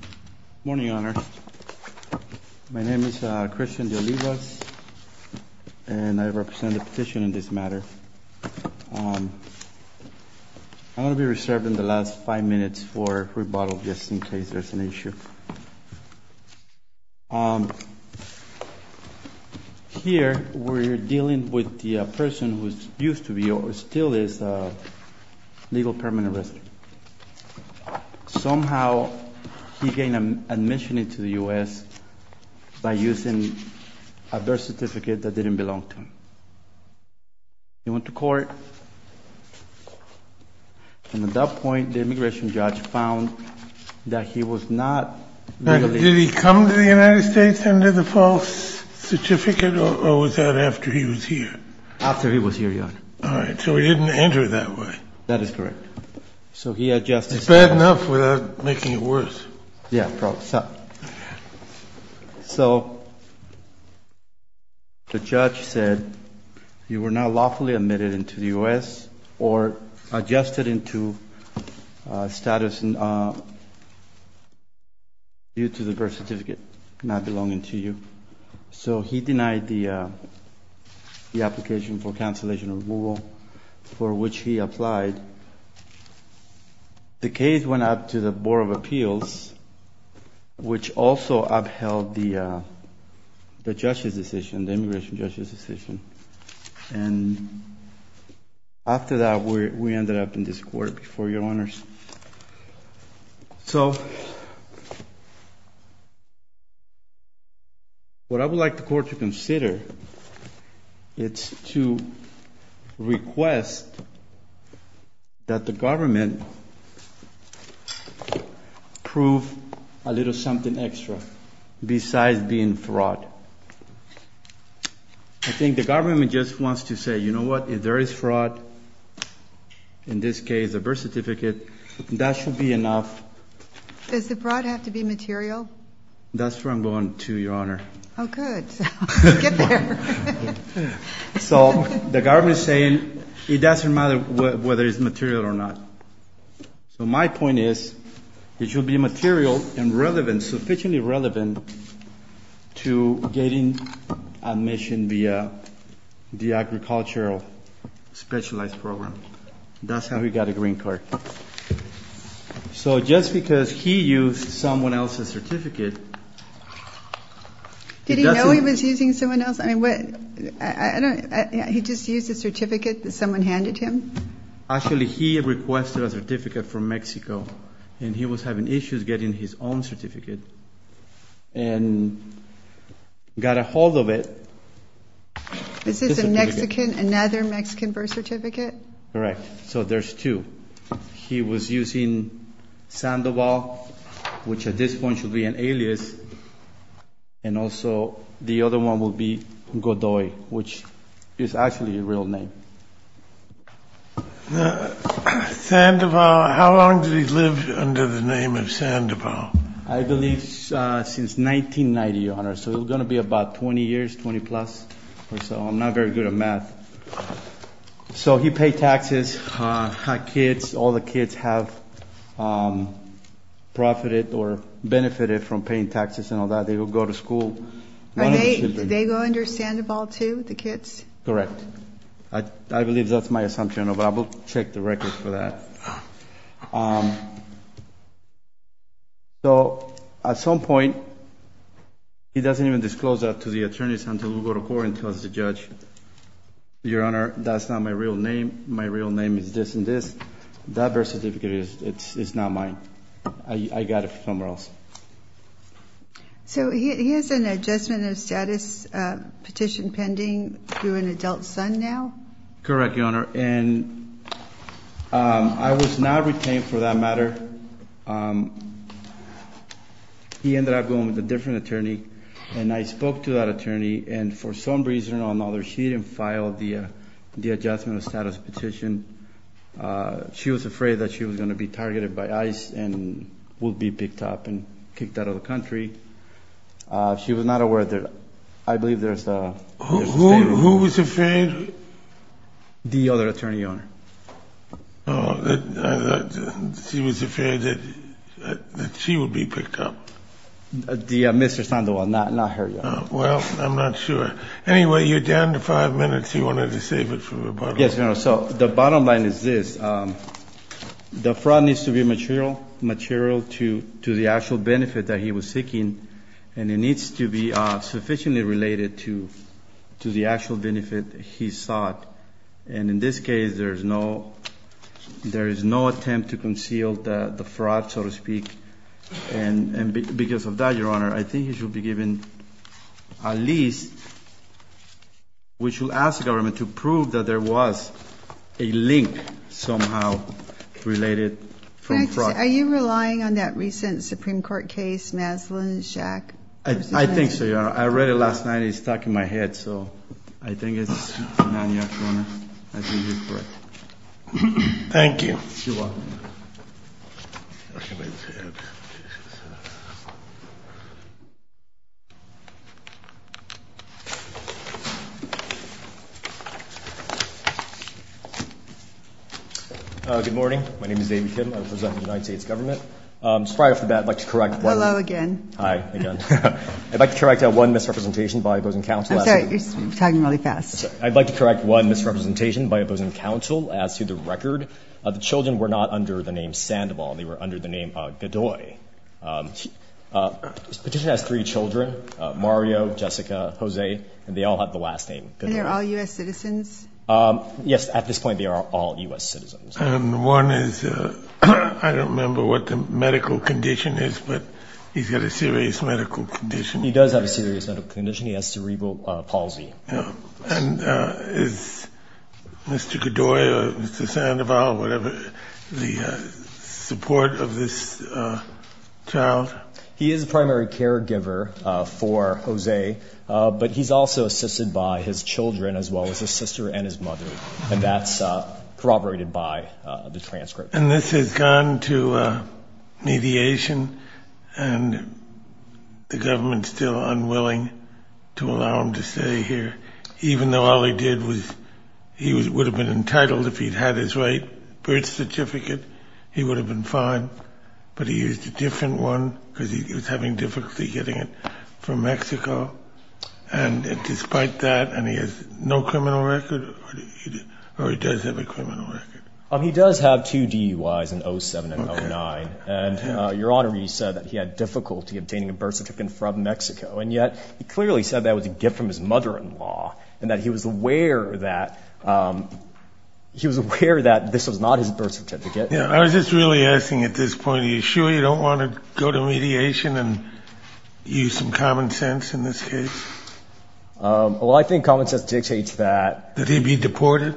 Good morning, Your Honor. My name is Christian De Olivas, and I represent the petition in this matter. I'm going to be reserved in the last five minutes for rebuttal, just in case there's an issue. Here, we're dealing with the person who used to be, or still is, a legal permanent resident. Somehow, he gained admission into the U.S. by using a birth certificate that didn't belong to him. He went to court, and at that point, the immigration judge found that he was not legally… Did he come to the United States under the false certificate, or was that after he was here? After he was here, Your Honor. All right, so he didn't enter that way. That is correct. It's bad enough without making it worse. Yeah. So, the judge said, you were not lawfully admitted into the U.S. or adjusted into status due to the birth certificate not belonging to you. So, he denied the application for cancellation of Google, for which he applied. The case went up to the Board of Appeals, which also upheld the judge's decision, the immigration judge's decision. And after that, we ended up in this court before you, Your Honors. So, what I would like the court to consider is to request that the government prove a little something extra besides being fraud. I think the government just wants to say, you know what? If there is fraud, in this case, a birth certificate, that should be enough. Does the fraud have to be material? That's where I'm going to, Your Honor. Oh, good. Get there. So, the government is saying it doesn't matter whether it's material or not. So, my point is, it should be material and relevant, sufficiently relevant, to getting admission via the agricultural specialized program. That's how we got a green card. So, just because he used someone else's certificate. Did he know he was using someone else's? I mean, what? He just used a certificate that someone handed him? Actually, he requested a certificate from Mexico. And he was having issues getting his own certificate. And got a hold of it. This is another Mexican birth certificate? Correct. So, there's two. He was using Sandoval, which at this point should be an alias. And also, the other one would be Godoy, which is actually a real name. Sandoval, how long did he live under the name of Sandoval? I believe since 1990, Your Honor. So, it was going to be about 20 years, 20 plus or so. I'm not very good at math. So, he paid taxes. All the kids have profited or benefited from paying taxes and all that. They go to school. Did they go under Sandoval too, the kids? Correct. I believe that's my assumption. But I will check the record for that. So, at some point, he doesn't even disclose that to the attorneys until we go to court and tell the judge, Your Honor, that's not my real name. My real name is this and this. That birth certificate is not mine. I got it from somewhere else. So, he has an adjustment of status petition pending through an adult son now? Correct, Your Honor. And I was not retained for that matter. He ended up going with a different attorney. And I spoke to that attorney. And for some reason or another, she didn't file the adjustment of status petition. She was afraid that she was going to be targeted by ICE and would be picked up and kicked out of the country. She was not aware that I believe there's a state rule. Who was afraid? The other attorney, Your Honor. She was afraid that she would be picked up. Mr. Sandoval, not her, Your Honor. Well, I'm not sure. Anyway, you're down to five minutes. You wanted to save it for rebuttal. Yes, Your Honor. So, the bottom line is this. The fraud needs to be material to the actual benefit that he was seeking. And it needs to be sufficiently related to the actual benefit he sought. And in this case, there is no attempt to conceal the fraud, so to speak. And because of that, Your Honor, I think he should be given a lease. We should ask the government to prove that there was a link somehow related from fraud. Are you relying on that recent Supreme Court case, Maslin v. Jack? I think so, Your Honor. I read it last night. It's stuck in my head, so I think it's not, Your Honor. I think you're correct. Thank you. You're welcome. Good morning. My name is David Kim. I represent the United States government. Just prior to that, I'd like to correct one. Hello again. Hi again. I'd like to correct one misrepresentation by opposing counsel. I'm sorry. You're talking really fast. I'd like to correct one misrepresentation by opposing counsel as to the record. The children were not under the name Sandoval. They were under the name Gadoy. This petition has three children, Mario, Jessica, Jose, and they all have the last name Gadoy. And they're all U.S. citizens? Yes. At this point, they are all U.S. citizens. And one is, I don't remember what the medical condition is, but he's got a serious medical condition. He does have a serious medical condition. He has cerebral palsy. And is Mr. Gadoy or Mr. Sandoval or whatever the support of this child? He is a primary caregiver for Jose, but he's also assisted by his children as well as his sister and his mother. And that's corroborated by the transcript. And this has gone to mediation, and the government is still unwilling to allow him to stay here, even though all he did was he would have been entitled, if he'd had his right birth certificate, he would have been fine. But he used a different one because he was having difficulty getting it from Mexico. And despite that, and he has no criminal record, or he does have a criminal record? He does have two DUIs, an 07 and an 09. And, Your Honor, you said that he had difficulty obtaining a birth certificate from Mexico, and yet he clearly said that was a gift from his mother-in-law and that he was aware that this was not his birth certificate. I was just really asking at this point, are you sure you don't want to go to mediation and use some common sense in this case? Well, I think common sense dictates that. That he be deported?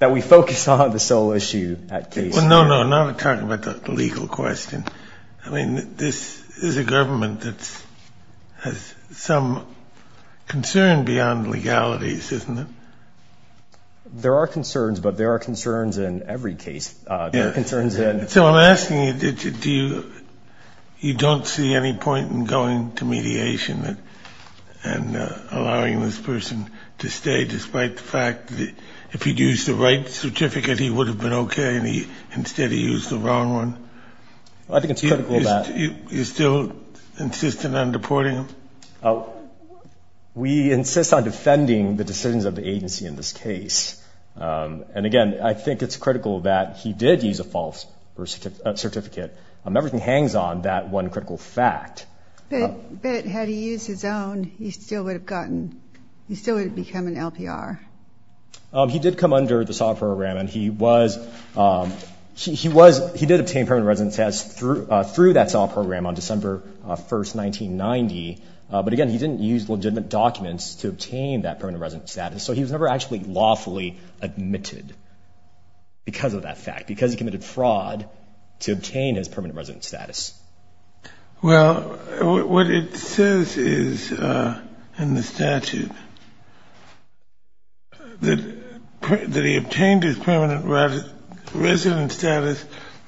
That we focus on the sole issue at case level. Well, no, no, I'm not talking about the legal question. I mean, this is a government that has some concern beyond legalities, isn't it? There are concerns, but there are concerns in every case. Yes. There are concerns in – So I'm asking, do you – you don't see any point in going to mediation and allowing this person to stay, despite the fact that if he'd used the right certificate, he would have been okay, and instead he used the wrong one? I think it's critical that – You're still insistent on deporting him? We insist on defending the decisions of the agency in this case. And, again, I think it's critical that he did use a false birth certificate. Everything hangs on that one critical fact. But had he used his own, he still would have gotten – he still would have become an LPR. He did come under the SAW program, and he was – he did obtain permanent residence status through that SAW program on December 1, 1990. But, again, he didn't use legitimate documents to obtain that permanent residence status, so he was never actually lawfully admitted because of that fact, because he committed fraud to obtain his permanent residence status. Well, what it says is in the statute that he obtained his permanent residence status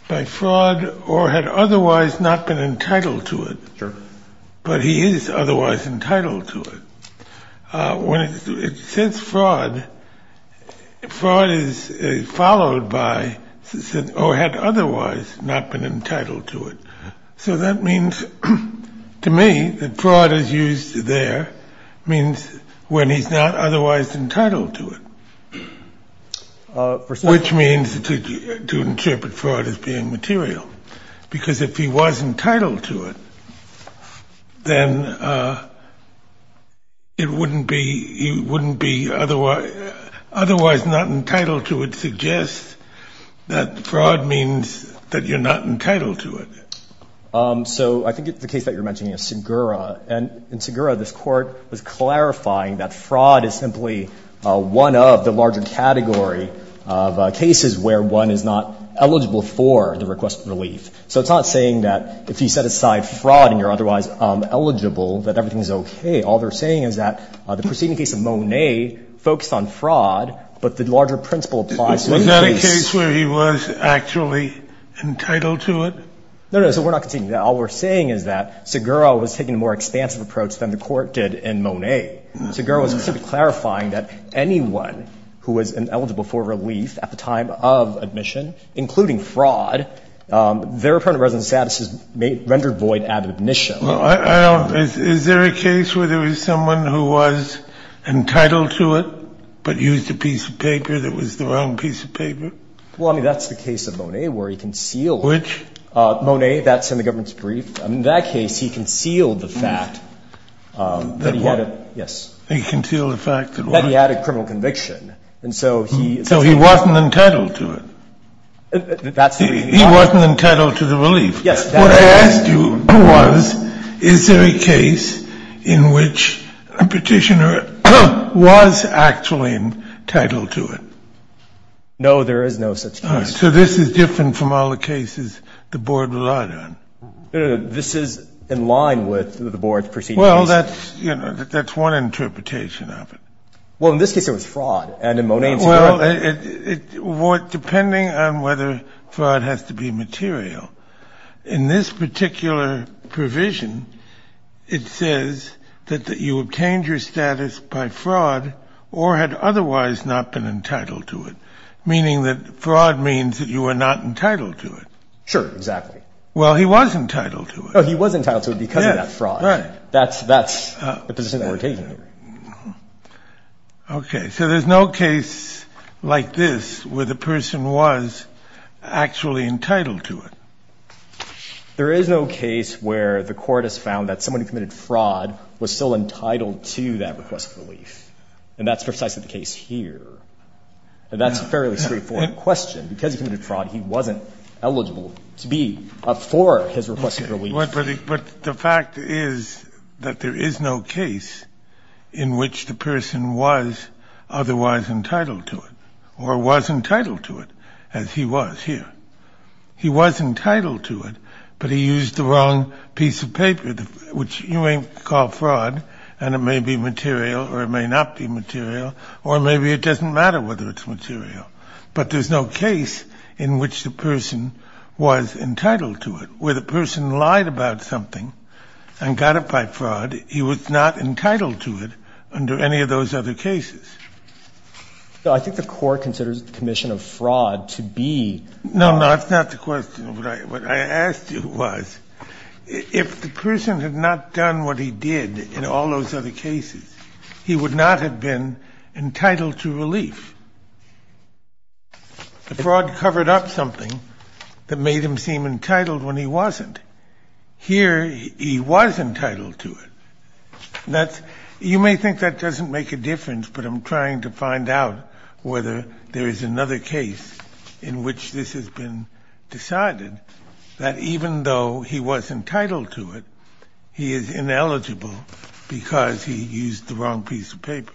by fraud or had otherwise not been entitled to it. Sure. But he is otherwise entitled to it. Since fraud, fraud is followed by – or had otherwise not been entitled to it. So that means, to me, that fraud is used there, means when he's not otherwise entitled to it, which means to interpret fraud as being material, because if he was entitled to it, then it wouldn't be – he wouldn't be otherwise not entitled to it suggests that fraud means that you're not entitled to it. So I think the case that you're mentioning is Segura. And in Segura, this Court was clarifying that fraud is simply one of the larger category of cases where one is not eligible for the request of relief. So it's not saying that if you set aside fraud and you're otherwise eligible, that everything is okay. All they're saying is that the preceding case of Monet focused on fraud, but the larger principle applies to the case – Was that a case where he was actually entitled to it? No, no. So we're not continuing that. All we're saying is that Segura was taking a more expansive approach than the Court did in Monet. Segura was simply clarifying that anyone who was ineligible for relief at the time of admission, including fraud, their apparent residence status is rendered void at admission. Is there a case where there was someone who was entitled to it but used a piece of paper that was the wrong piece of paper? Well, I mean, that's the case of Monet where he concealed it. Which? Monet. That's in the government's brief. In that case, he concealed the fact that he had a – yes. He concealed the fact that what? That he had a criminal conviction. And so he – So he wasn't entitled to it. That's the – He wasn't entitled to the relief. Yes. What I asked you was, is there a case in which a Petitioner was actually entitled to it? No, there is no such case. All right. So this is different from all the cases the Board relied on. This is in line with the Board's proceedings. Well, that's, you know, that's one interpretation of it. Well, in this case, it was fraud. And in Monet and Segura – Well, it – depending on whether fraud has to be material, in this particular provision, it says that you obtained your status by fraud or had otherwise not been entitled to it, meaning that fraud means that you were not entitled to it. Sure. Exactly. Well, he was entitled to it. Oh, he was entitled to it because of that fraud. Yes. Right. That's – but there's another implication here. Okay. So there's no case like this where the person was actually entitled to it. There is no case where the court has found that someone who committed fraud was still entitled to that request for relief. And that's precisely the case here. And that's a fairly straightforward question. Because he committed fraud, he wasn't eligible to be up for his request for relief. But the fact is that there is no case in which the person was otherwise entitled to it or was entitled to it, as he was here. He was entitled to it, but he used the wrong piece of paper, which you may call fraud and it may be material or it may not be material, or maybe it doesn't matter whether it's material. But there's no case in which the person was entitled to it. Where the person lied about something and got it by fraud, he was not entitled to it under any of those other cases. So I think the court considers the commission of fraud to be – No, no, that's not the question. What I asked you was, if the person had not done what he did in all those other cases, he would not have been entitled to relief. The fraud covered up something that made him seem entitled when he wasn't. Here, he was entitled to it. You may think that doesn't make a difference, but I'm trying to find out whether there is another case in which this has been decided, that even though he was entitled to it, he is ineligible because he used the wrong piece of paper.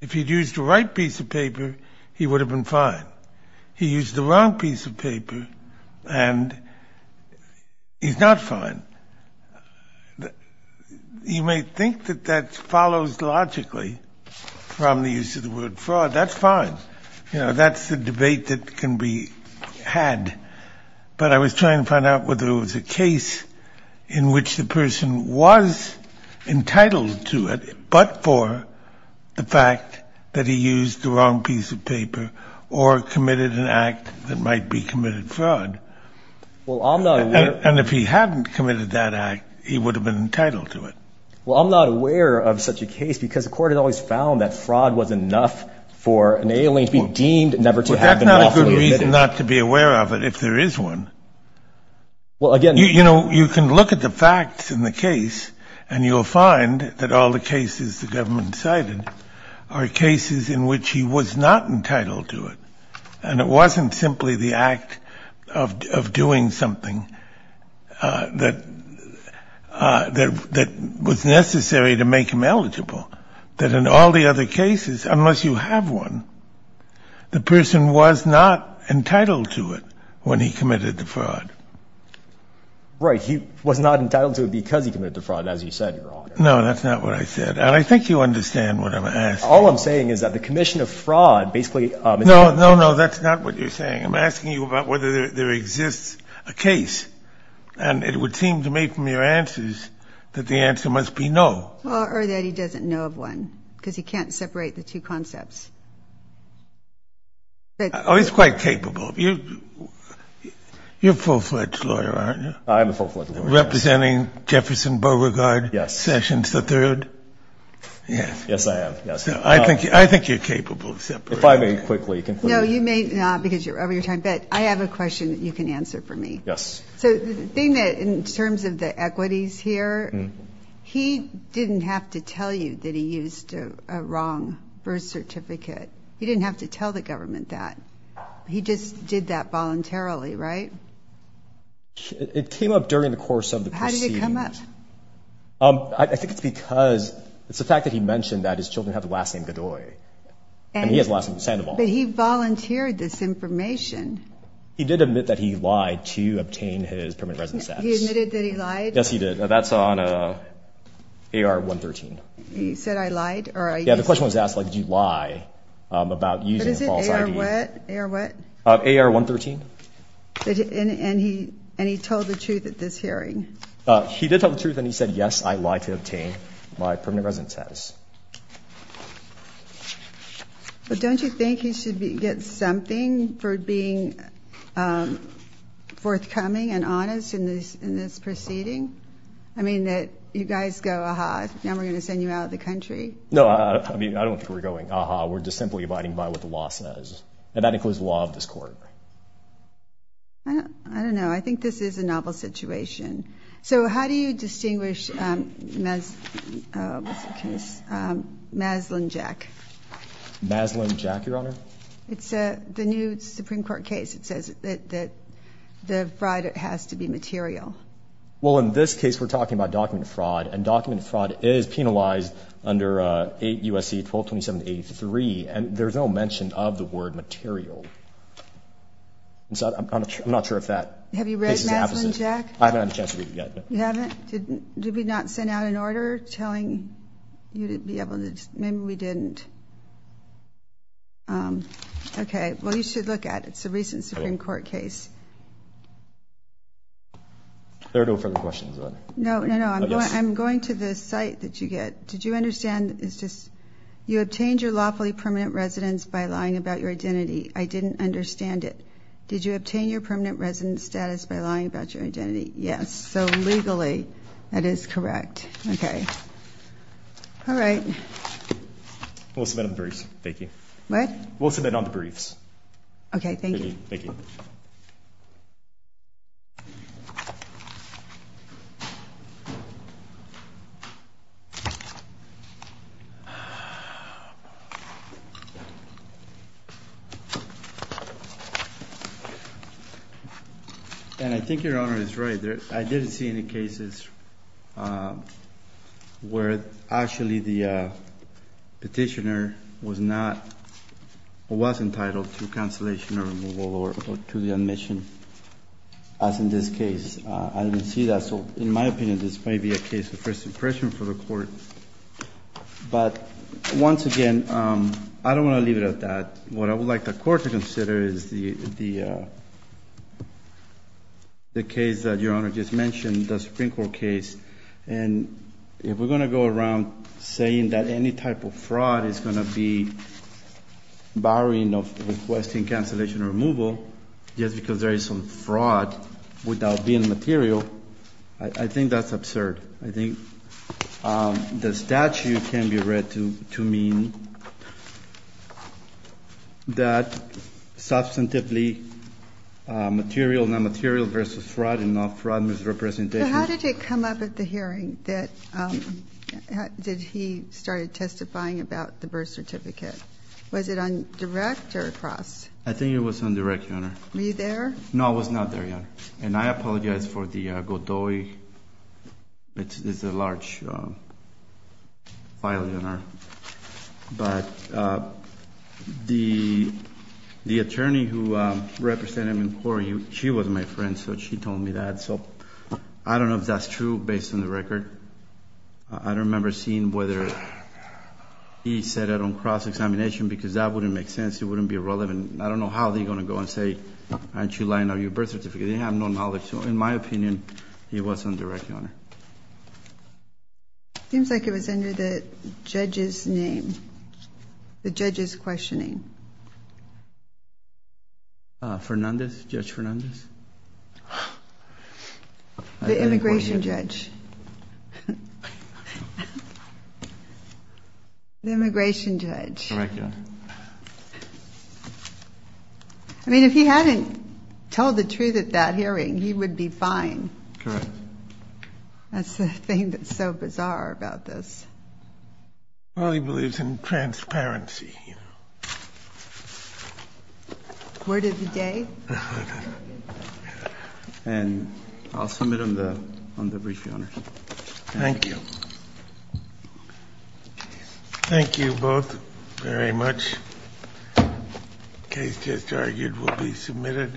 If he'd used the right piece of paper, he would have been fine. He used the wrong piece of paper and he's not fine. You may think that that follows logically from the use of the word fraud. That's fine. You know, that's the debate that can be had. But I was trying to find out whether there was a case in which the person was entitled to it, but for the fact that he used the wrong piece of paper or committed an act that might be committed fraud. Well, I'm not aware. And if he hadn't committed that act, he would have been entitled to it. Well, I'm not aware of such a case because the court has always found that fraud was enough for an alien to be deemed never to have been lawfully admitted. Well, that's not a good reason not to be aware of it if there is one. Well, again. You know, you can look at the facts in the case, and you'll find that all the cases the government cited are cases in which he was not entitled to it. And it wasn't simply the act of doing something that was necessary to make him eligible, that in all the other cases, unless you have one, the person was not entitled to it when he committed the fraud. Right. He was not entitled to it because he committed the fraud, as you said, Your Honor. No, that's not what I said. And I think you understand what I'm asking. All I'm saying is that the commission of fraud basically is. No, no, no. That's not what you're saying. I'm asking you about whether there exists a case. And it would seem to me from your answers that the answer must be no. Or that he doesn't know of one because he can't separate the two concepts. Oh, he's quite capable. You're a full-fledged lawyer, aren't you? I am a full-fledged lawyer, yes. Representing Jefferson Beauregard. Yes. Sessions III. Yes. Yes, I am, yes. I think you're capable of separating. If I may quickly conclude. No, you may not because you're over your time. But I have a question that you can answer for me. Yes. So the thing that in terms of the equities here, he didn't have to tell you that he used a wrong birth certificate. He didn't have to tell the government that. He just did that voluntarily, right? It came up during the course of the proceedings. How did it come up? I think it's because it's the fact that he mentioned that his children have the last name Godoy. And he has the last name Sandoval. But he volunteered this information. He did admit that he lied to obtain his permanent residence status. He admitted that he lied? Yes, he did. That's on AR113. He said I lied? Yeah, the question was asked, like, did you lie about using a false ID? What is it? AR what? AR what? AR113. And he told the truth at this hearing? He did tell the truth, and he said, yes, I lied to obtain my permanent residence status. But don't you think he should get something for being forthcoming and honest in this proceeding? I mean, that you guys go, aha, now we're going to send you out of the country? No, I mean, I don't think we're going, aha, we're just simply abiding by what the law says. And that includes the law of this court. I don't know. I think this is a novel situation. So how do you distinguish, what's the case, Maslin-Jack? Maslin-Jack, Your Honor? It's the new Supreme Court case. It says that the fraud has to be material. Well, in this case, we're talking about document fraud, and document fraud is penalized under 8 U.S.C. 1227-83, and there's no mention of the word material. I'm not sure if that is the opposite. Have you read Maslin-Jack? I haven't had a chance to read it yet. You haven't? Did we not send out an order telling you to be able to, maybe we didn't. Okay. Well, you should look at it. It's a recent Supreme Court case. There are no further questions. No, no, no. I'm going to the site that you get. Did you understand? You obtained your lawfully permanent residence by lying about your identity. I didn't understand it. Did you obtain your permanent residence status by lying about your identity? Yes. So, legally, that is correct. Okay. All right. We'll submit on the briefs. Thank you. What? We'll submit on the briefs. Okay. Thank you. Thank you. And I think Your Honor is right. I didn't see any cases where actually the petitioner was not, was entitled to cancellation or removal or to the admission, as in this case. I didn't see that. So, in my opinion, this may be a case of first impression for the Court. But, once again, I don't want to leave it at that. What I would like the Court to consider is the case that Your Honor just mentioned, the Supreme Court case. And if we're going to go around saying that any type of fraud is going to be barring of requesting cancellation or removal, just because there is some fraud without being material, I think that's absurd. I think the statute can be read to mean that substantively material, non-material versus fraud and not fraud misrepresentation. So, how did it come up at the hearing that he started testifying about the birth certificate? Was it on direct or across? I think it was on direct, Your Honor. Were you there? No, I was not there, Your Honor. And I apologize for the Godoy. It's a large file, Your Honor. But the attorney who represented him in court, she was my friend, so she told me that. So, I don't know if that's true based on the record. I don't remember seeing whether he said it on cross-examination because that wouldn't make sense. It wouldn't be relevant. I don't know how they're going to go and say, aren't you lying on your birth certificate? They have no knowledge. So, in my opinion, it was on direct, Your Honor. It seems like it was under the judge's name, the judge's questioning. Fernandez? Judge Fernandez? The immigration judge. The immigration judge. Correct, Your Honor. I mean, if he hadn't told the truth at that hearing, he would be fine. Correct. That's the thing that's so bizarre about this. Well, he believes in transparency. Word of the day. And I'll submit on the brief, Your Honor. Thank you. Thank you both very much. The case just argued will be submitted.